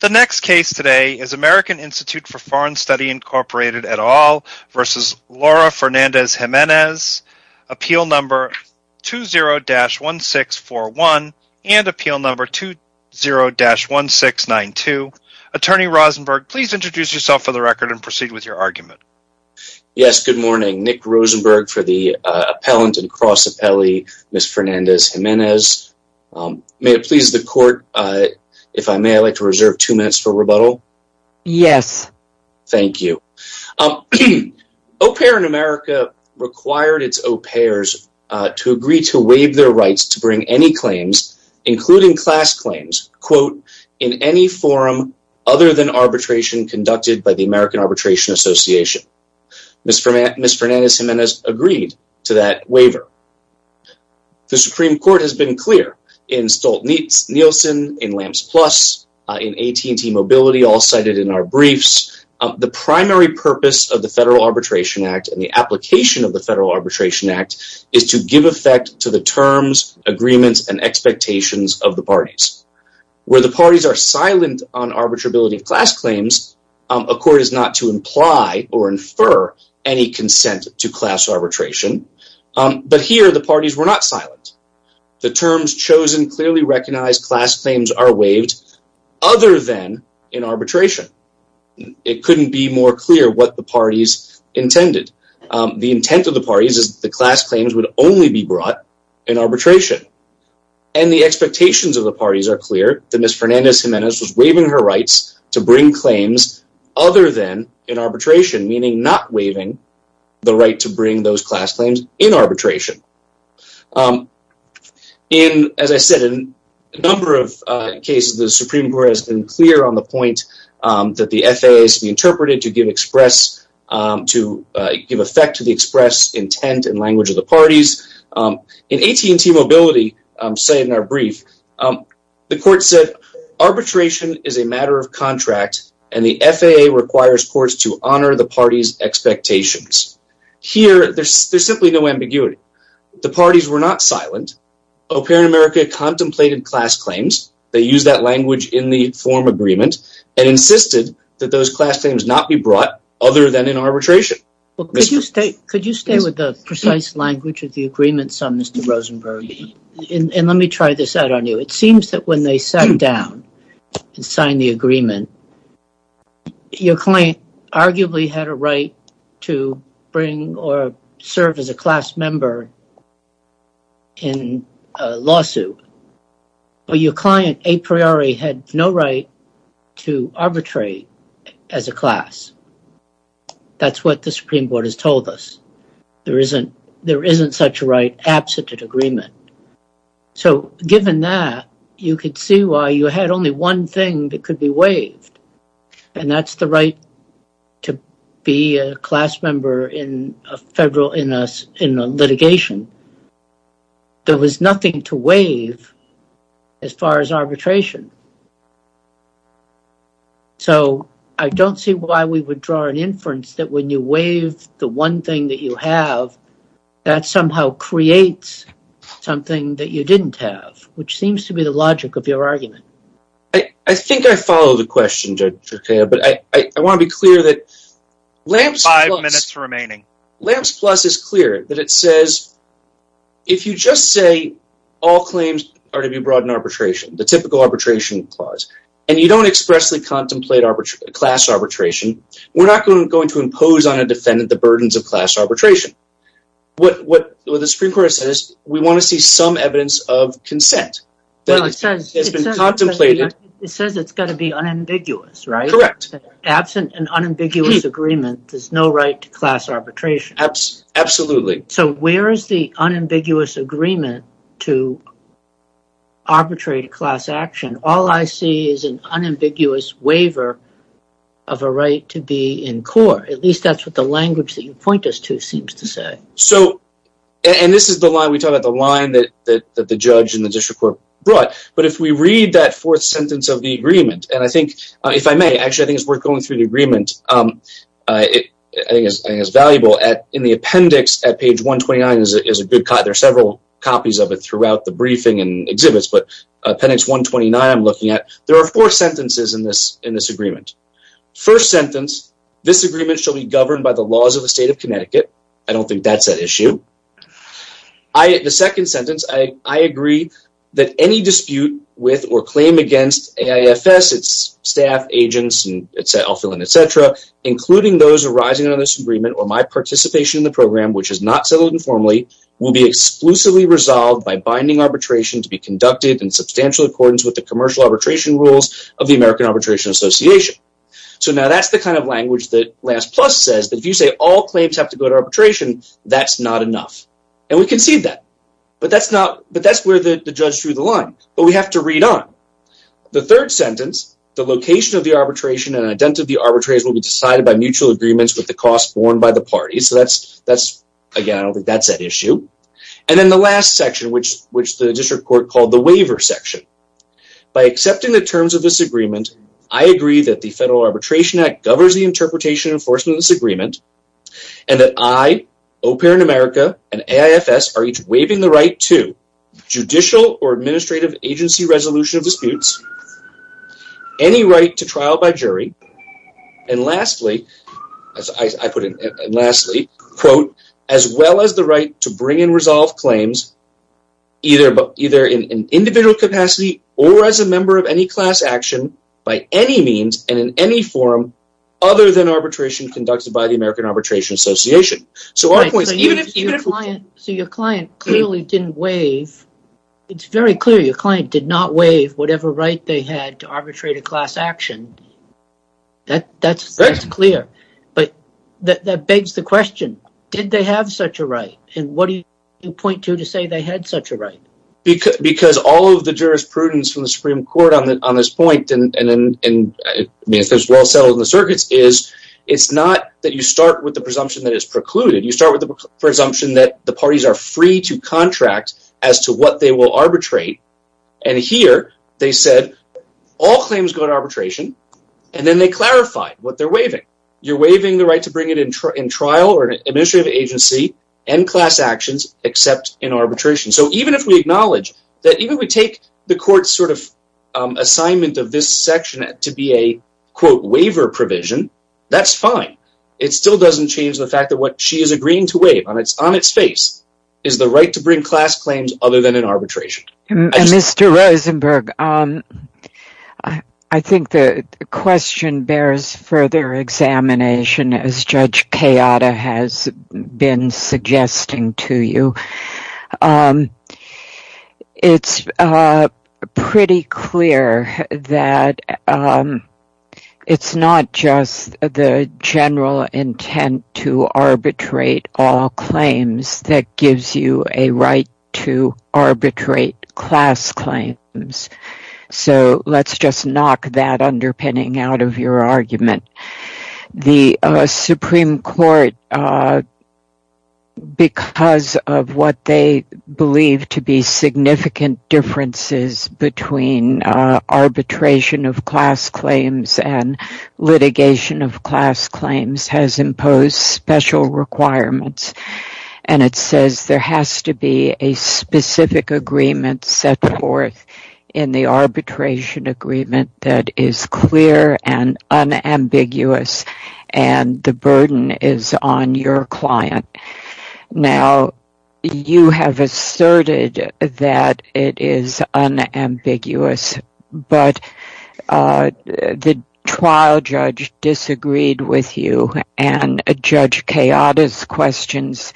The next case today is American Institute for Foreign Study, Inc. et al. v. Laura Fernandez-Jimenez, Appeal No. 20-1641 and Appeal No. 20-1692. Attorney Rosenberg, please introduce yourself for the record and proceed with your argument. Yes, good morning. Nick Rosenberg for the Appellant and Cross Appellee, Ms. Fernandez-Jimenez. May it please the Court, if I may, I'd like to reserve two minutes for rebuttal? Yes. Thank you. Au Pair in America required its au pairs to agree to waive their rights to bring any claims, including class claims, quote, in any forum other than arbitration conducted by the American Arbitration Association. Ms. Fernandez-Jimenez agreed to that waiver. The Supreme Court has been clear in Stolt-Nielsen, in LAMPS Plus, in AT&T Mobility, all cited in our briefs, the primary purpose of the Federal Arbitration Act and the application of the Federal Arbitration Act is to give effect to the terms, agreements, and expectations of the parties. Where the parties are silent on arbitrability of class claims, a court is not to imply or infer any consent to class arbitration. But here, the parties were not silent. The terms chosen clearly recognize class claims are waived other than in arbitration. It couldn't be more clear what the parties intended. The intent of the parties is the class claims would only be brought in arbitration. And the expectations of the parties are clear that Ms. Fernandez-Jimenez was waiving her rights to bring claims other than arbitration, meaning not waiving the right to bring those class claims in arbitration. As I said, in a number of cases, the Supreme Court has been clear on the point that the FAA is to be interpreted to give effect to the express intent and language of the parties. In AT&T Mobility, cited in our brief, the court said arbitration is a matter of contract and the FAA requires courts to honor the parties' expectations. Here, there's simply no ambiguity. The parties were not silent. O'Parent America contemplated class claims. They used that language in the form agreement and insisted that those class claims not be brought other than in arbitration. Could you stay with the precise language of the agreements on Mr. Rosenberg? And let me try this out on you. It seems that when they sat down and signed the agreement, your client arguably had a right to bring or serve as a class member in a lawsuit. But your client a priori had no right to arbitrate as a class. That's what the Supreme Court has told us. There isn't such a right absent an agreement. So given that, you could see why you had only one thing that could be waived, and that's the right to be a class member in a litigation. There was nothing to waive as far as arbitration. So I don't see why we would draw an inference that when you waive the one thing that you have, that somehow creates something that you didn't have, which seems to be the logic of your argument. I think I follow the question, but I want to be clear that LAMPS plus is clear that it says if you just say all claims are to be brought in arbitration, the typical arbitration clause, and you don't expressly contemplate class arbitration, we're not going to impose on what the Supreme Court says. We want to see some evidence of consent that has been contemplated. It says it's got to be unambiguous, right? Absent an unambiguous agreement, there's no right to class arbitration. Absolutely. So where is the unambiguous agreement to arbitrate a class action? All I see is an unambiguous waiver of a right to be in court. At least that's what the language that you point us seems to say. So, and this is the line we talk about, the line that the judge and the district court brought, but if we read that fourth sentence of the agreement, and I think, if I may, actually, I think it's worth going through the agreement. I think it's valuable. In the appendix at page 129, there are several copies of it throughout the briefing and exhibits, but appendix 129, I'm looking at, there are four sentences in this agreement. First sentence, this agreement shall be governed by the laws of the state of Connecticut. I don't think that's an issue. The second sentence, I agree that any dispute with or claim against AIFS, its staff, agents, etc., including those arising out of this agreement or my participation in the program, which is not settled informally, will be exclusively resolved by binding arbitration to be conducted in substantial accordance with the commercial arbitration rules of the American last plus says that if you say all claims have to go to arbitration, that's not enough, and we concede that, but that's not, but that's where the judge threw the line, but we have to read on. The third sentence, the location of the arbitration and identity arbitrators will be decided by mutual agreements with the cost borne by the party. So, that's, that's, again, I don't think that's an issue, and then the last section, which, which the district court called the waiver section. By accepting the terms of this agreement, I agree that the interpretation enforcement of this agreement, and that I, OPERA in America, and AIFS are each waiving the right to judicial or administrative agency resolution of disputes, any right to trial by jury, and lastly, as I put it, and lastly, quote, as well as the right to bring and resolve claims either, either in an individual capacity or as a member of any class action by any means and in any form other than arbitration conducted by the American Arbitration Association. So, so your client clearly didn't waive, it's very clear your client did not waive whatever right they had to arbitrate a class action. That, that's, that's clear, but that begs the question, did they have such a right, and what do you point to to say they had such a right? Because, because all of the jurisprudence from the Supreme Court on that, on this point, and, and, and, I mean, if it's well settled in the circuits, is it's not that you start with the presumption that it's precluded. You start with the presumption that the parties are free to contract as to what they will arbitrate, and here they said all claims go to arbitration, and then they clarified what they're waiving. You're waiving the right to bring it in trial or an administrative agency and class actions except in arbitration. So, even if we acknowledge that, even if we take the court's sort of assignment of this section to be a, quote, waiver provision, that's fine. It still doesn't change the fact that what she is agreeing to waive on its, on its face, is the right to bring class claims other than in arbitration. Mr. Rosenberg, I think the question bears further examination as Judge Kayada has been suggesting to you. It's pretty clear that it's not just the general intent to arbitrate all claims that gives you a right to arbitrate class claims. So, let's just knock that underpinning out of your argument. The Supreme Court, because of what they believe to be significant differences between arbitration of class claims and litigation of class claims, has imposed special requirements, and it says there has to be a specific agreement set forth in the arbitration agreement that is clear and unambiguous, and the burden is on your client. Now, you have asserted that it is unambiguous, but the trial judge disagreed with you, and Judge Kayada's questions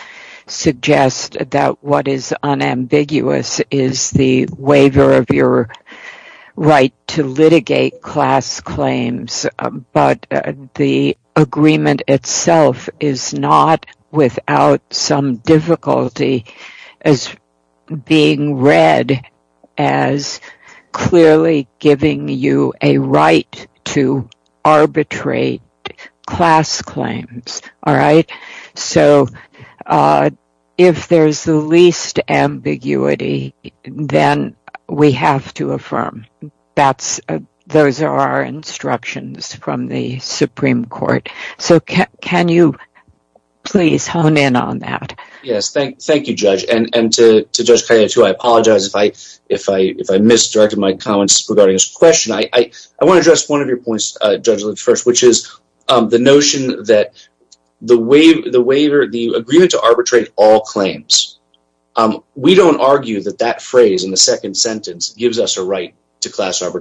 suggest that what is unambiguous is the waiver of your right to litigate class claims, but the agreement itself is not without some difficulty as being read as clearly giving you a right to arbitrate class claims. So, if there's the least ambiguity, then we have to affirm. Those are our instructions from the Supreme Court. So, can you please hone in on that? Yes, thank you, Judge. And to Judge Kayada, I apologize if I misdirected my comments regarding this question. I want to address one of your points, Judge Lynch, first, which is the notion that the agreement to arbitrate all claims, we don't argue that that phrase in the second sentence gives us a right to class attempting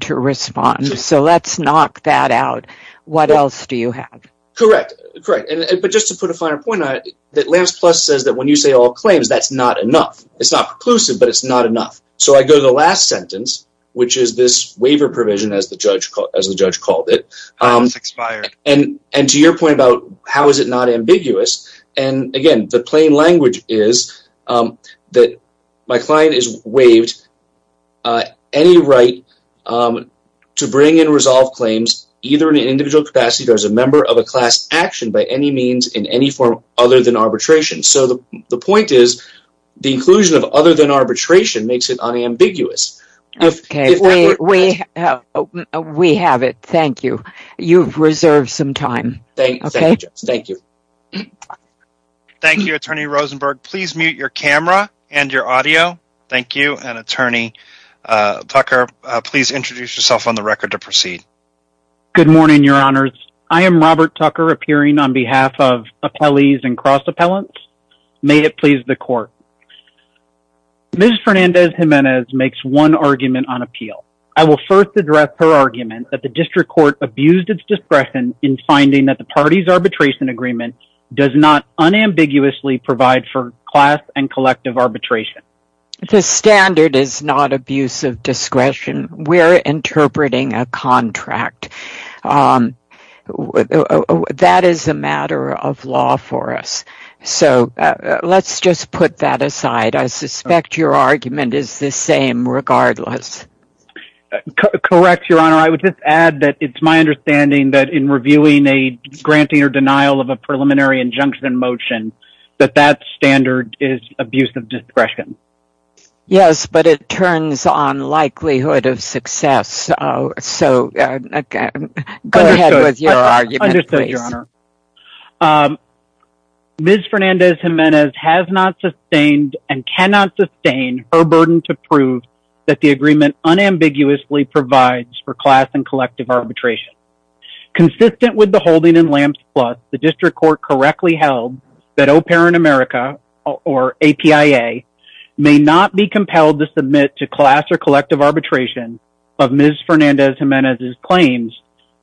to respond. So, let's knock that out. What else do you have? Correct, correct. But just to put a finer point on it, that Lance Plus says that when you say all claims, that's not enough. It's not preclusive, but it's not enough. So, I go to the last sentence, which is this waiver provision, as the judge called it, and to your point about how is it ambiguous. Again, the plain language is that my client is waived any right to bring and resolve claims either in an individual capacity or as a member of a class action by any means in any form other than arbitration. So, the point is the inclusion of other than arbitration makes it unambiguous. Okay, we have it. Thank you. You've reserved some time. Thank you, Judge. Thank you. Thank you, Attorney Rosenberg. Please mute your camera and your audio. Thank you. And, Attorney Tucker, please introduce yourself on the record to proceed. Good morning, your honors. I am Robert Tucker appearing on behalf of appellees and cross appellants. May it please the court. Ms. Fernandez-Gimenez makes one argument on appeal. I will first address her argument that the district court abused its discretion in finding that the party's arbitration agreement does not unambiguously provide for class and collective arbitration. The standard is not abuse of discretion. We're interpreting a contract. That is a matter of law for us. So, let's just put that aside. I suspect your argument is the same regardless. Correct, your honor. I would just add that it's my understanding that in reviewing a granting or denial of a preliminary injunction in motion that that standard is abuse of discretion. Yes, but it turns on likelihood of success. So, go ahead with your argument. Ms. Fernandez-Gimenez has not sustained and cannot sustain her burden to prove that the agreement unambiguously provides for class and collective arbitration. Consistent with the holding in lamps plus the district court correctly held that au pair in America or APIA may not be compelled to submit to class or collective arbitration of Ms. Fernandez-Gimenez's claims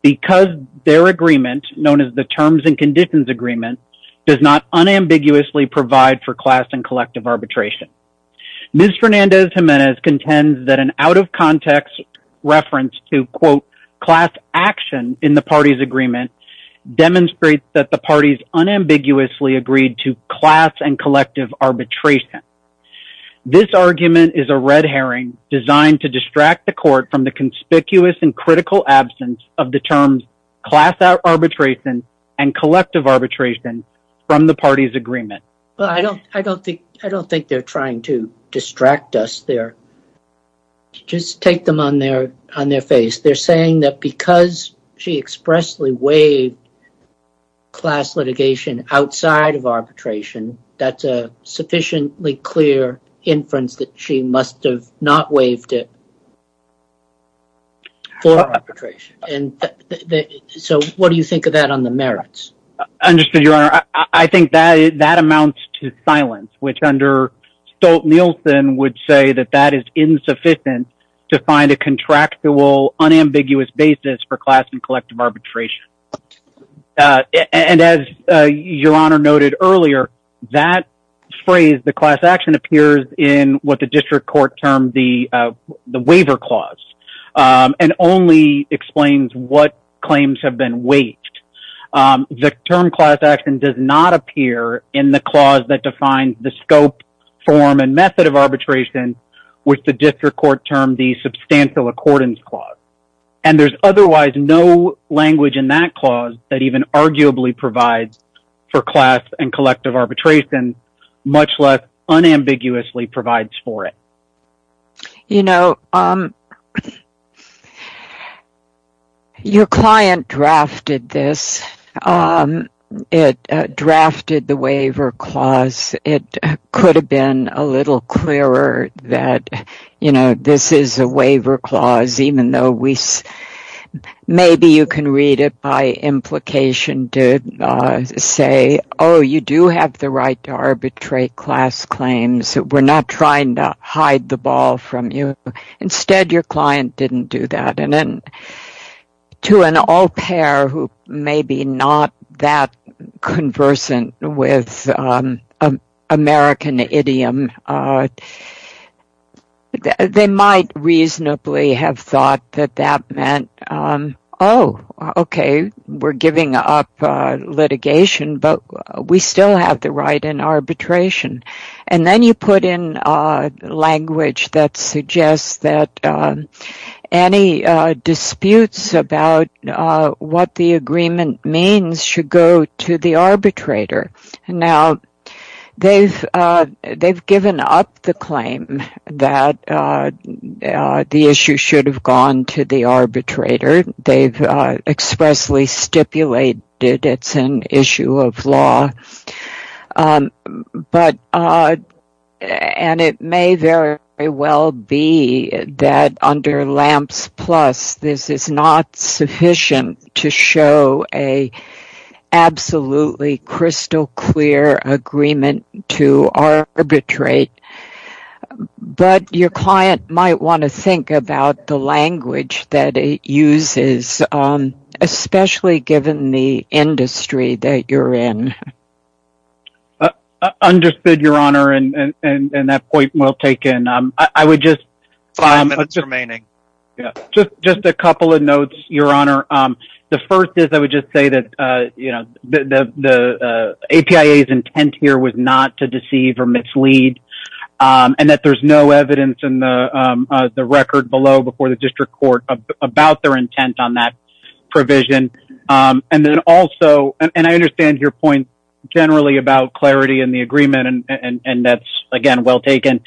because their agreement known as the terms and conditions agreement does not unambiguously provide for class and collective arbitration. Ms. Fernandez-Gimenez contends that an out of context reference to quote class action in the party's agreement demonstrates that the parties unambiguously agreed to class and collective arbitration. This argument is a red herring designed to distract the court from the conspicuous and critical absence of the terms class arbitration and collective arbitration from the party's distraction. Just take them on their face. They're saying that because she expressly waived class litigation outside of arbitration, that's a sufficiently clear inference that she must have not waived it for arbitration. So, what do you think of that on the merits? Understood your honor. I think that that amounts to silence which under Stolt-Nielsen would say that that is insufficient to find a contractual unambiguous basis for class and collective arbitration. And as your honor noted earlier, that phrase the class action appears in what the district court termed the waiver clause and only explains what claims have been waived. The term class action does not appear in the clause that defines the scope, form, and method of arbitration which the district court termed the substantial accordance clause. And there's otherwise no language in that clause that even arguably provides for class and collective arbitration much less unambiguously provides for it. You know, um um it drafted the waiver clause. It could have been a little clearer that you know this is a waiver clause even though we maybe you can read it by implication to say oh you do have the right to arbitrate class claims. We're not trying to hide the ball from you. Instead your client didn't do that. And then to an au pair who may be not that conversant with American idiom, they might reasonably have thought that that meant oh okay we're giving up litigation but we still have the right in arbitration. And then you put in language that suggests that any disputes about what the agreement means should go to the arbitrator. Now they've given up the claim that the issue should have gone to the arbitrator. They've expressly stipulated it's issue of law. But and it may very well be that under lamps plus this is not sufficient to show a absolutely crystal clear agreement to arbitrate. But your client might want to think about the you're in. Understood your honor and and that point well taken. I would just five minutes remaining yeah just just a couple of notes your honor. The first is I would just say that you know the the the APIA's intent here was not to deceive or mislead. And that there's no evidence in the the record below before the district court about their intent on that provision. And then also and I understand your point generally about clarity in the agreement and and and that's again well taken.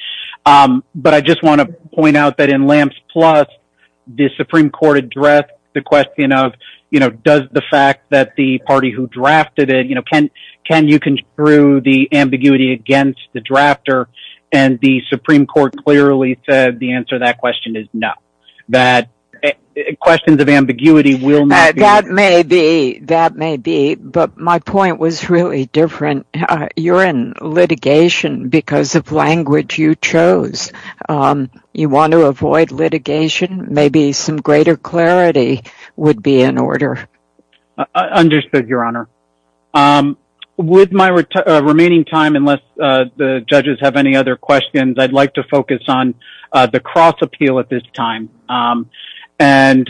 But I just want to point out that in lamps plus the supreme court addressed the question of you know does the fact that the party who drafted it you know can can you construe the ambiguity against the drafter. And the supreme court clearly said the answer that question is no. That questions of ambiguity will not be. That may be that may be but my point was really different. You're in litigation because of language you chose. You want to avoid litigation maybe some greater clarity would be in order. Understood your honor. With my remaining time unless the judges have any other questions I'd like to focus on the cross appeal at this time. And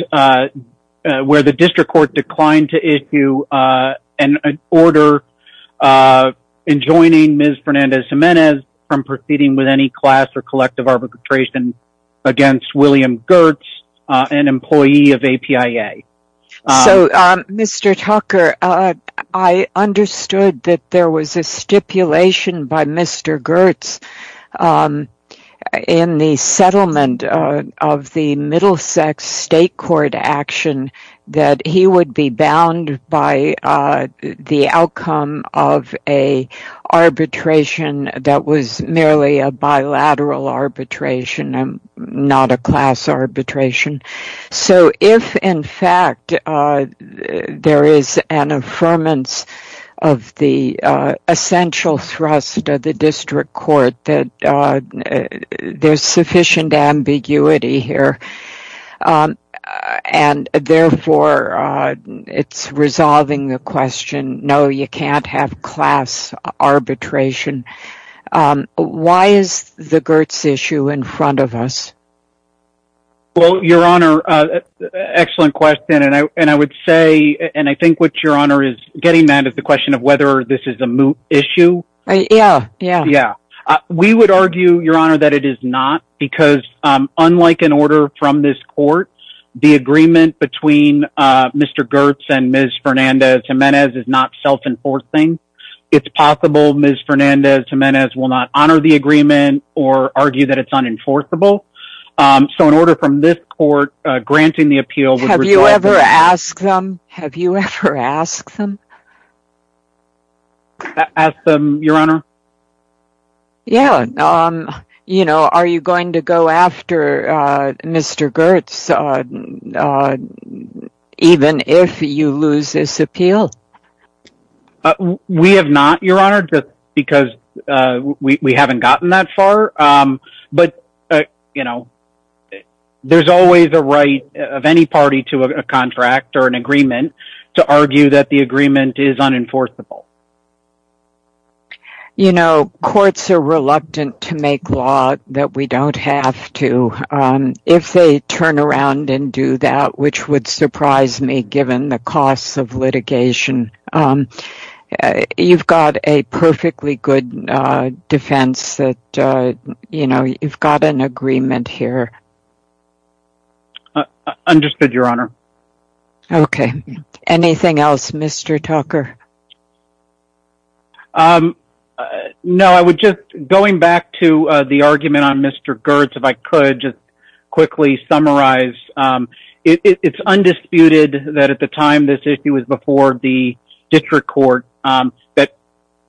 where the district court declined to issue an order in joining Ms. Fernandez-Gimenez from proceeding with any class or collective arbitration against William Gertz an employee of APIA. So Mr. Tucker I understood that there was a stipulation by Mr. Gertz in the settlement of the Middlesex state court action that he would be bound by the outcome of a arbitration that was merely a bilateral arbitration and not a class arbitration. So if in fact there is an affirmance of the essential thrust of the district court that there's sufficient ambiguity here and therefore it's resolving the question no you can't have class arbitration. Why is the Gertz issue in front of us? Well your honor excellent question and I would say and I think what your honor is getting mad at the question of whether this is a moot issue. Yeah yeah. Yeah we would argue your honor that it is not because unlike an order from this court the agreement between Mr. Gertz and Ms. Fernandez-Gimenez is not self-enforcing. It's possible Ms. Fernandez-Gimenez will not honor the agreement or argue that it's unenforceable. So in order from this court granting the appeal. Have you ever asked them? Have you ever asked them? Asked them your honor? Yeah you know are you going to go after Mr. Gertz even if you lose this appeal? We have not your honor just because we haven't gotten that far. But you know there's always a right of any party to a contract or an agreement to argue that the agreement is unenforceable. You know courts are reluctant to make law that we don't have to. If they turn around and do that which would surprise me given the costs of litigation. You've got a perfectly good defense that you know you've got an agreement here. I understood your honor. Okay anything else Mr. Tucker? No I would just going back to the argument on Mr. Gertz if I could just quickly summarize. It's undisputed that at the time this issue was before the district court that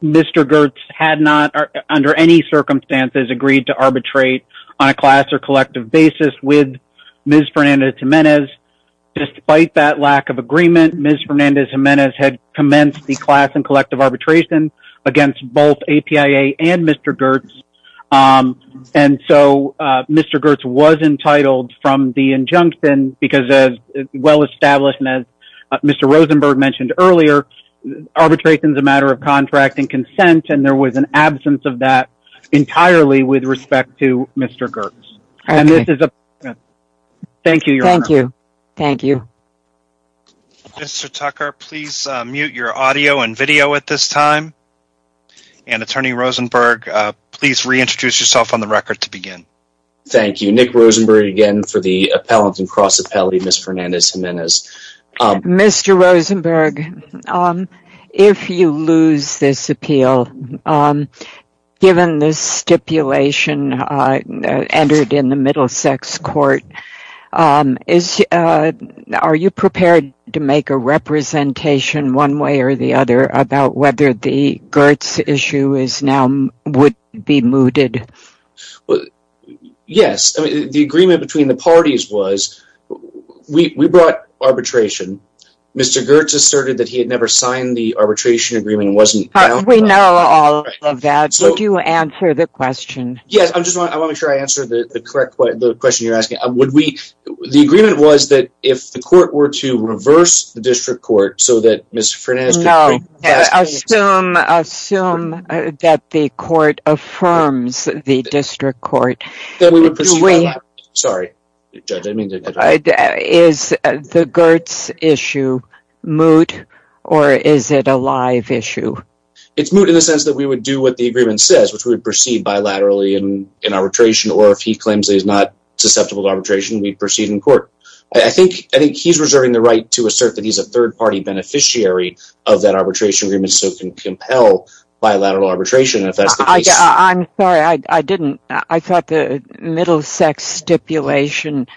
Mr. Gertz had not Ms. Fernandez Jimenez. Despite that lack of agreement Ms. Fernandez Jimenez had commenced the class and collective arbitration against both APIA and Mr. Gertz. And so Mr. Gertz was entitled from the injunction because as well established as Mr. Rosenberg mentioned earlier arbitration is a matter of contract and consent and there was an absence of that entirely with respect to Mr. Gertz. Thank you your honor. Thank you. Mr. Tucker please mute your audio and video at this time and attorney Rosenberg please reintroduce yourself on the record to begin. Thank you Nick Rosenberg again for the appellant and cross appellate Ms. Fernandez Jimenez. Mr. Rosenberg um if you lose this appeal um given this stipulation uh entered in the Middlesex court um is uh are you prepared to make a representation one way or the other about whether the Gertz issue is now would be mooted? Well yes I mean the agreement between the parties was we we brought arbitration Mr. Gertz asserted that he had never signed the arbitration agreement wasn't we know all of that so do you answer the question? Yes I'm just I want to make sure I answer the correct the question you're asking would we the agreement was that if the court were to reverse the district court so that Ms. Fernandez could assume assume that the court affirms the district court sorry judge I mean is the Gertz issue moot or is it a live issue? It's moot in the sense that we would do what the agreement says which we would proceed bilaterally in in arbitration or if he claims he's not susceptible to arbitration we proceed in court I think I think he's reserving the right to assert that he's a third party beneficiary of that arbitration agreement so can compel bilateral arbitration if that's the case. I'm sorry I I didn't I thought the middle sex stipulation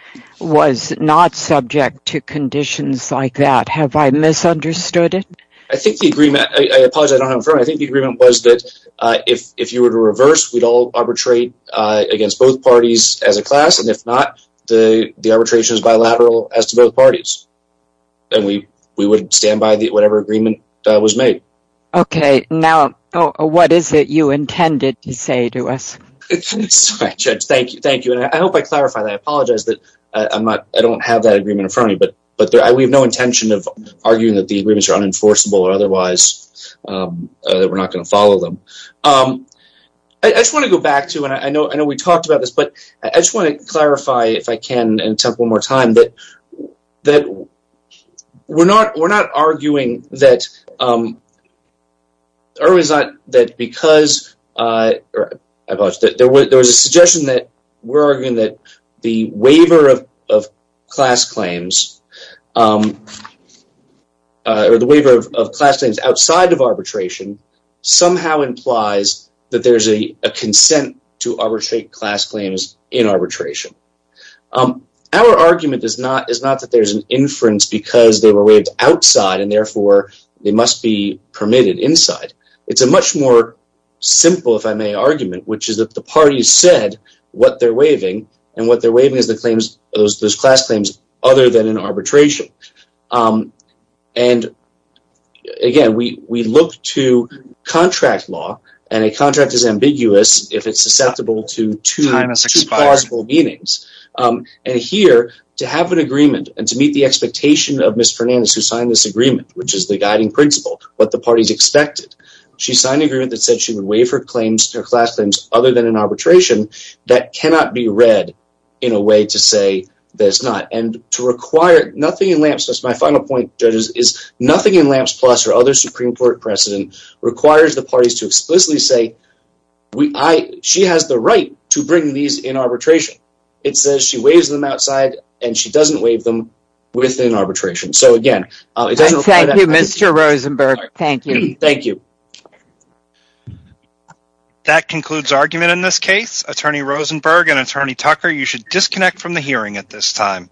was not subject to conditions like that have I misunderstood it? I think the agreement I apologize I don't have a firm I think the agreement was that uh if if you were to reverse we'd all arbitrate uh against both parties as a class and if not the the arbitration is bilateral as to both parties and we we would stand by the whatever agreement was made. Okay now what is it you intended to say to us? Sorry judge thank you thank you and I hope I clarify that I apologize that I'm not I don't have that agreement in front of me but but there we have no intention of arguing that the agreements are unenforceable or otherwise um that we're not going to follow them um I just want to go back to and I know I know we talked about this but I just want to clarify if I can and attempt one more time that that we're not we're not arguing that um or is not that because uh or I apologize that there was there was a suggestion that we're arguing that the waiver of of class claims um or the waiver of class claims outside of arbitration somehow implies that there's a a consent to arbitrate class claims in arbitration. Um our argument is not is not that there's an inference because they were waived outside and therefore they must be permitted inside. It's a much more simple if I may argument which is that the parties said what they're waiving and what they're waiving is the claims those those class claims other than in arbitration um and again we look to contract law and a contract is ambiguous if it's susceptible to two possible meanings and here to have an agreement and to meet the expectation of Ms. Fernandez who signed this agreement which is the guiding principle what the party's expected she signed an agreement that said she would waive her claims her class claims other than in arbitration that cannot be read in a way to say that it's not and to require nothing in lamps plus my final point judges is nothing in precedent requires the parties to explicitly say we I she has the right to bring these in arbitration it says she waives them outside and she doesn't waive them within arbitration so again Mr. Rosenberg thank you thank you that concludes argument in this case attorney Rosenberg and attorney Tucker you should disconnect from the hearing at this time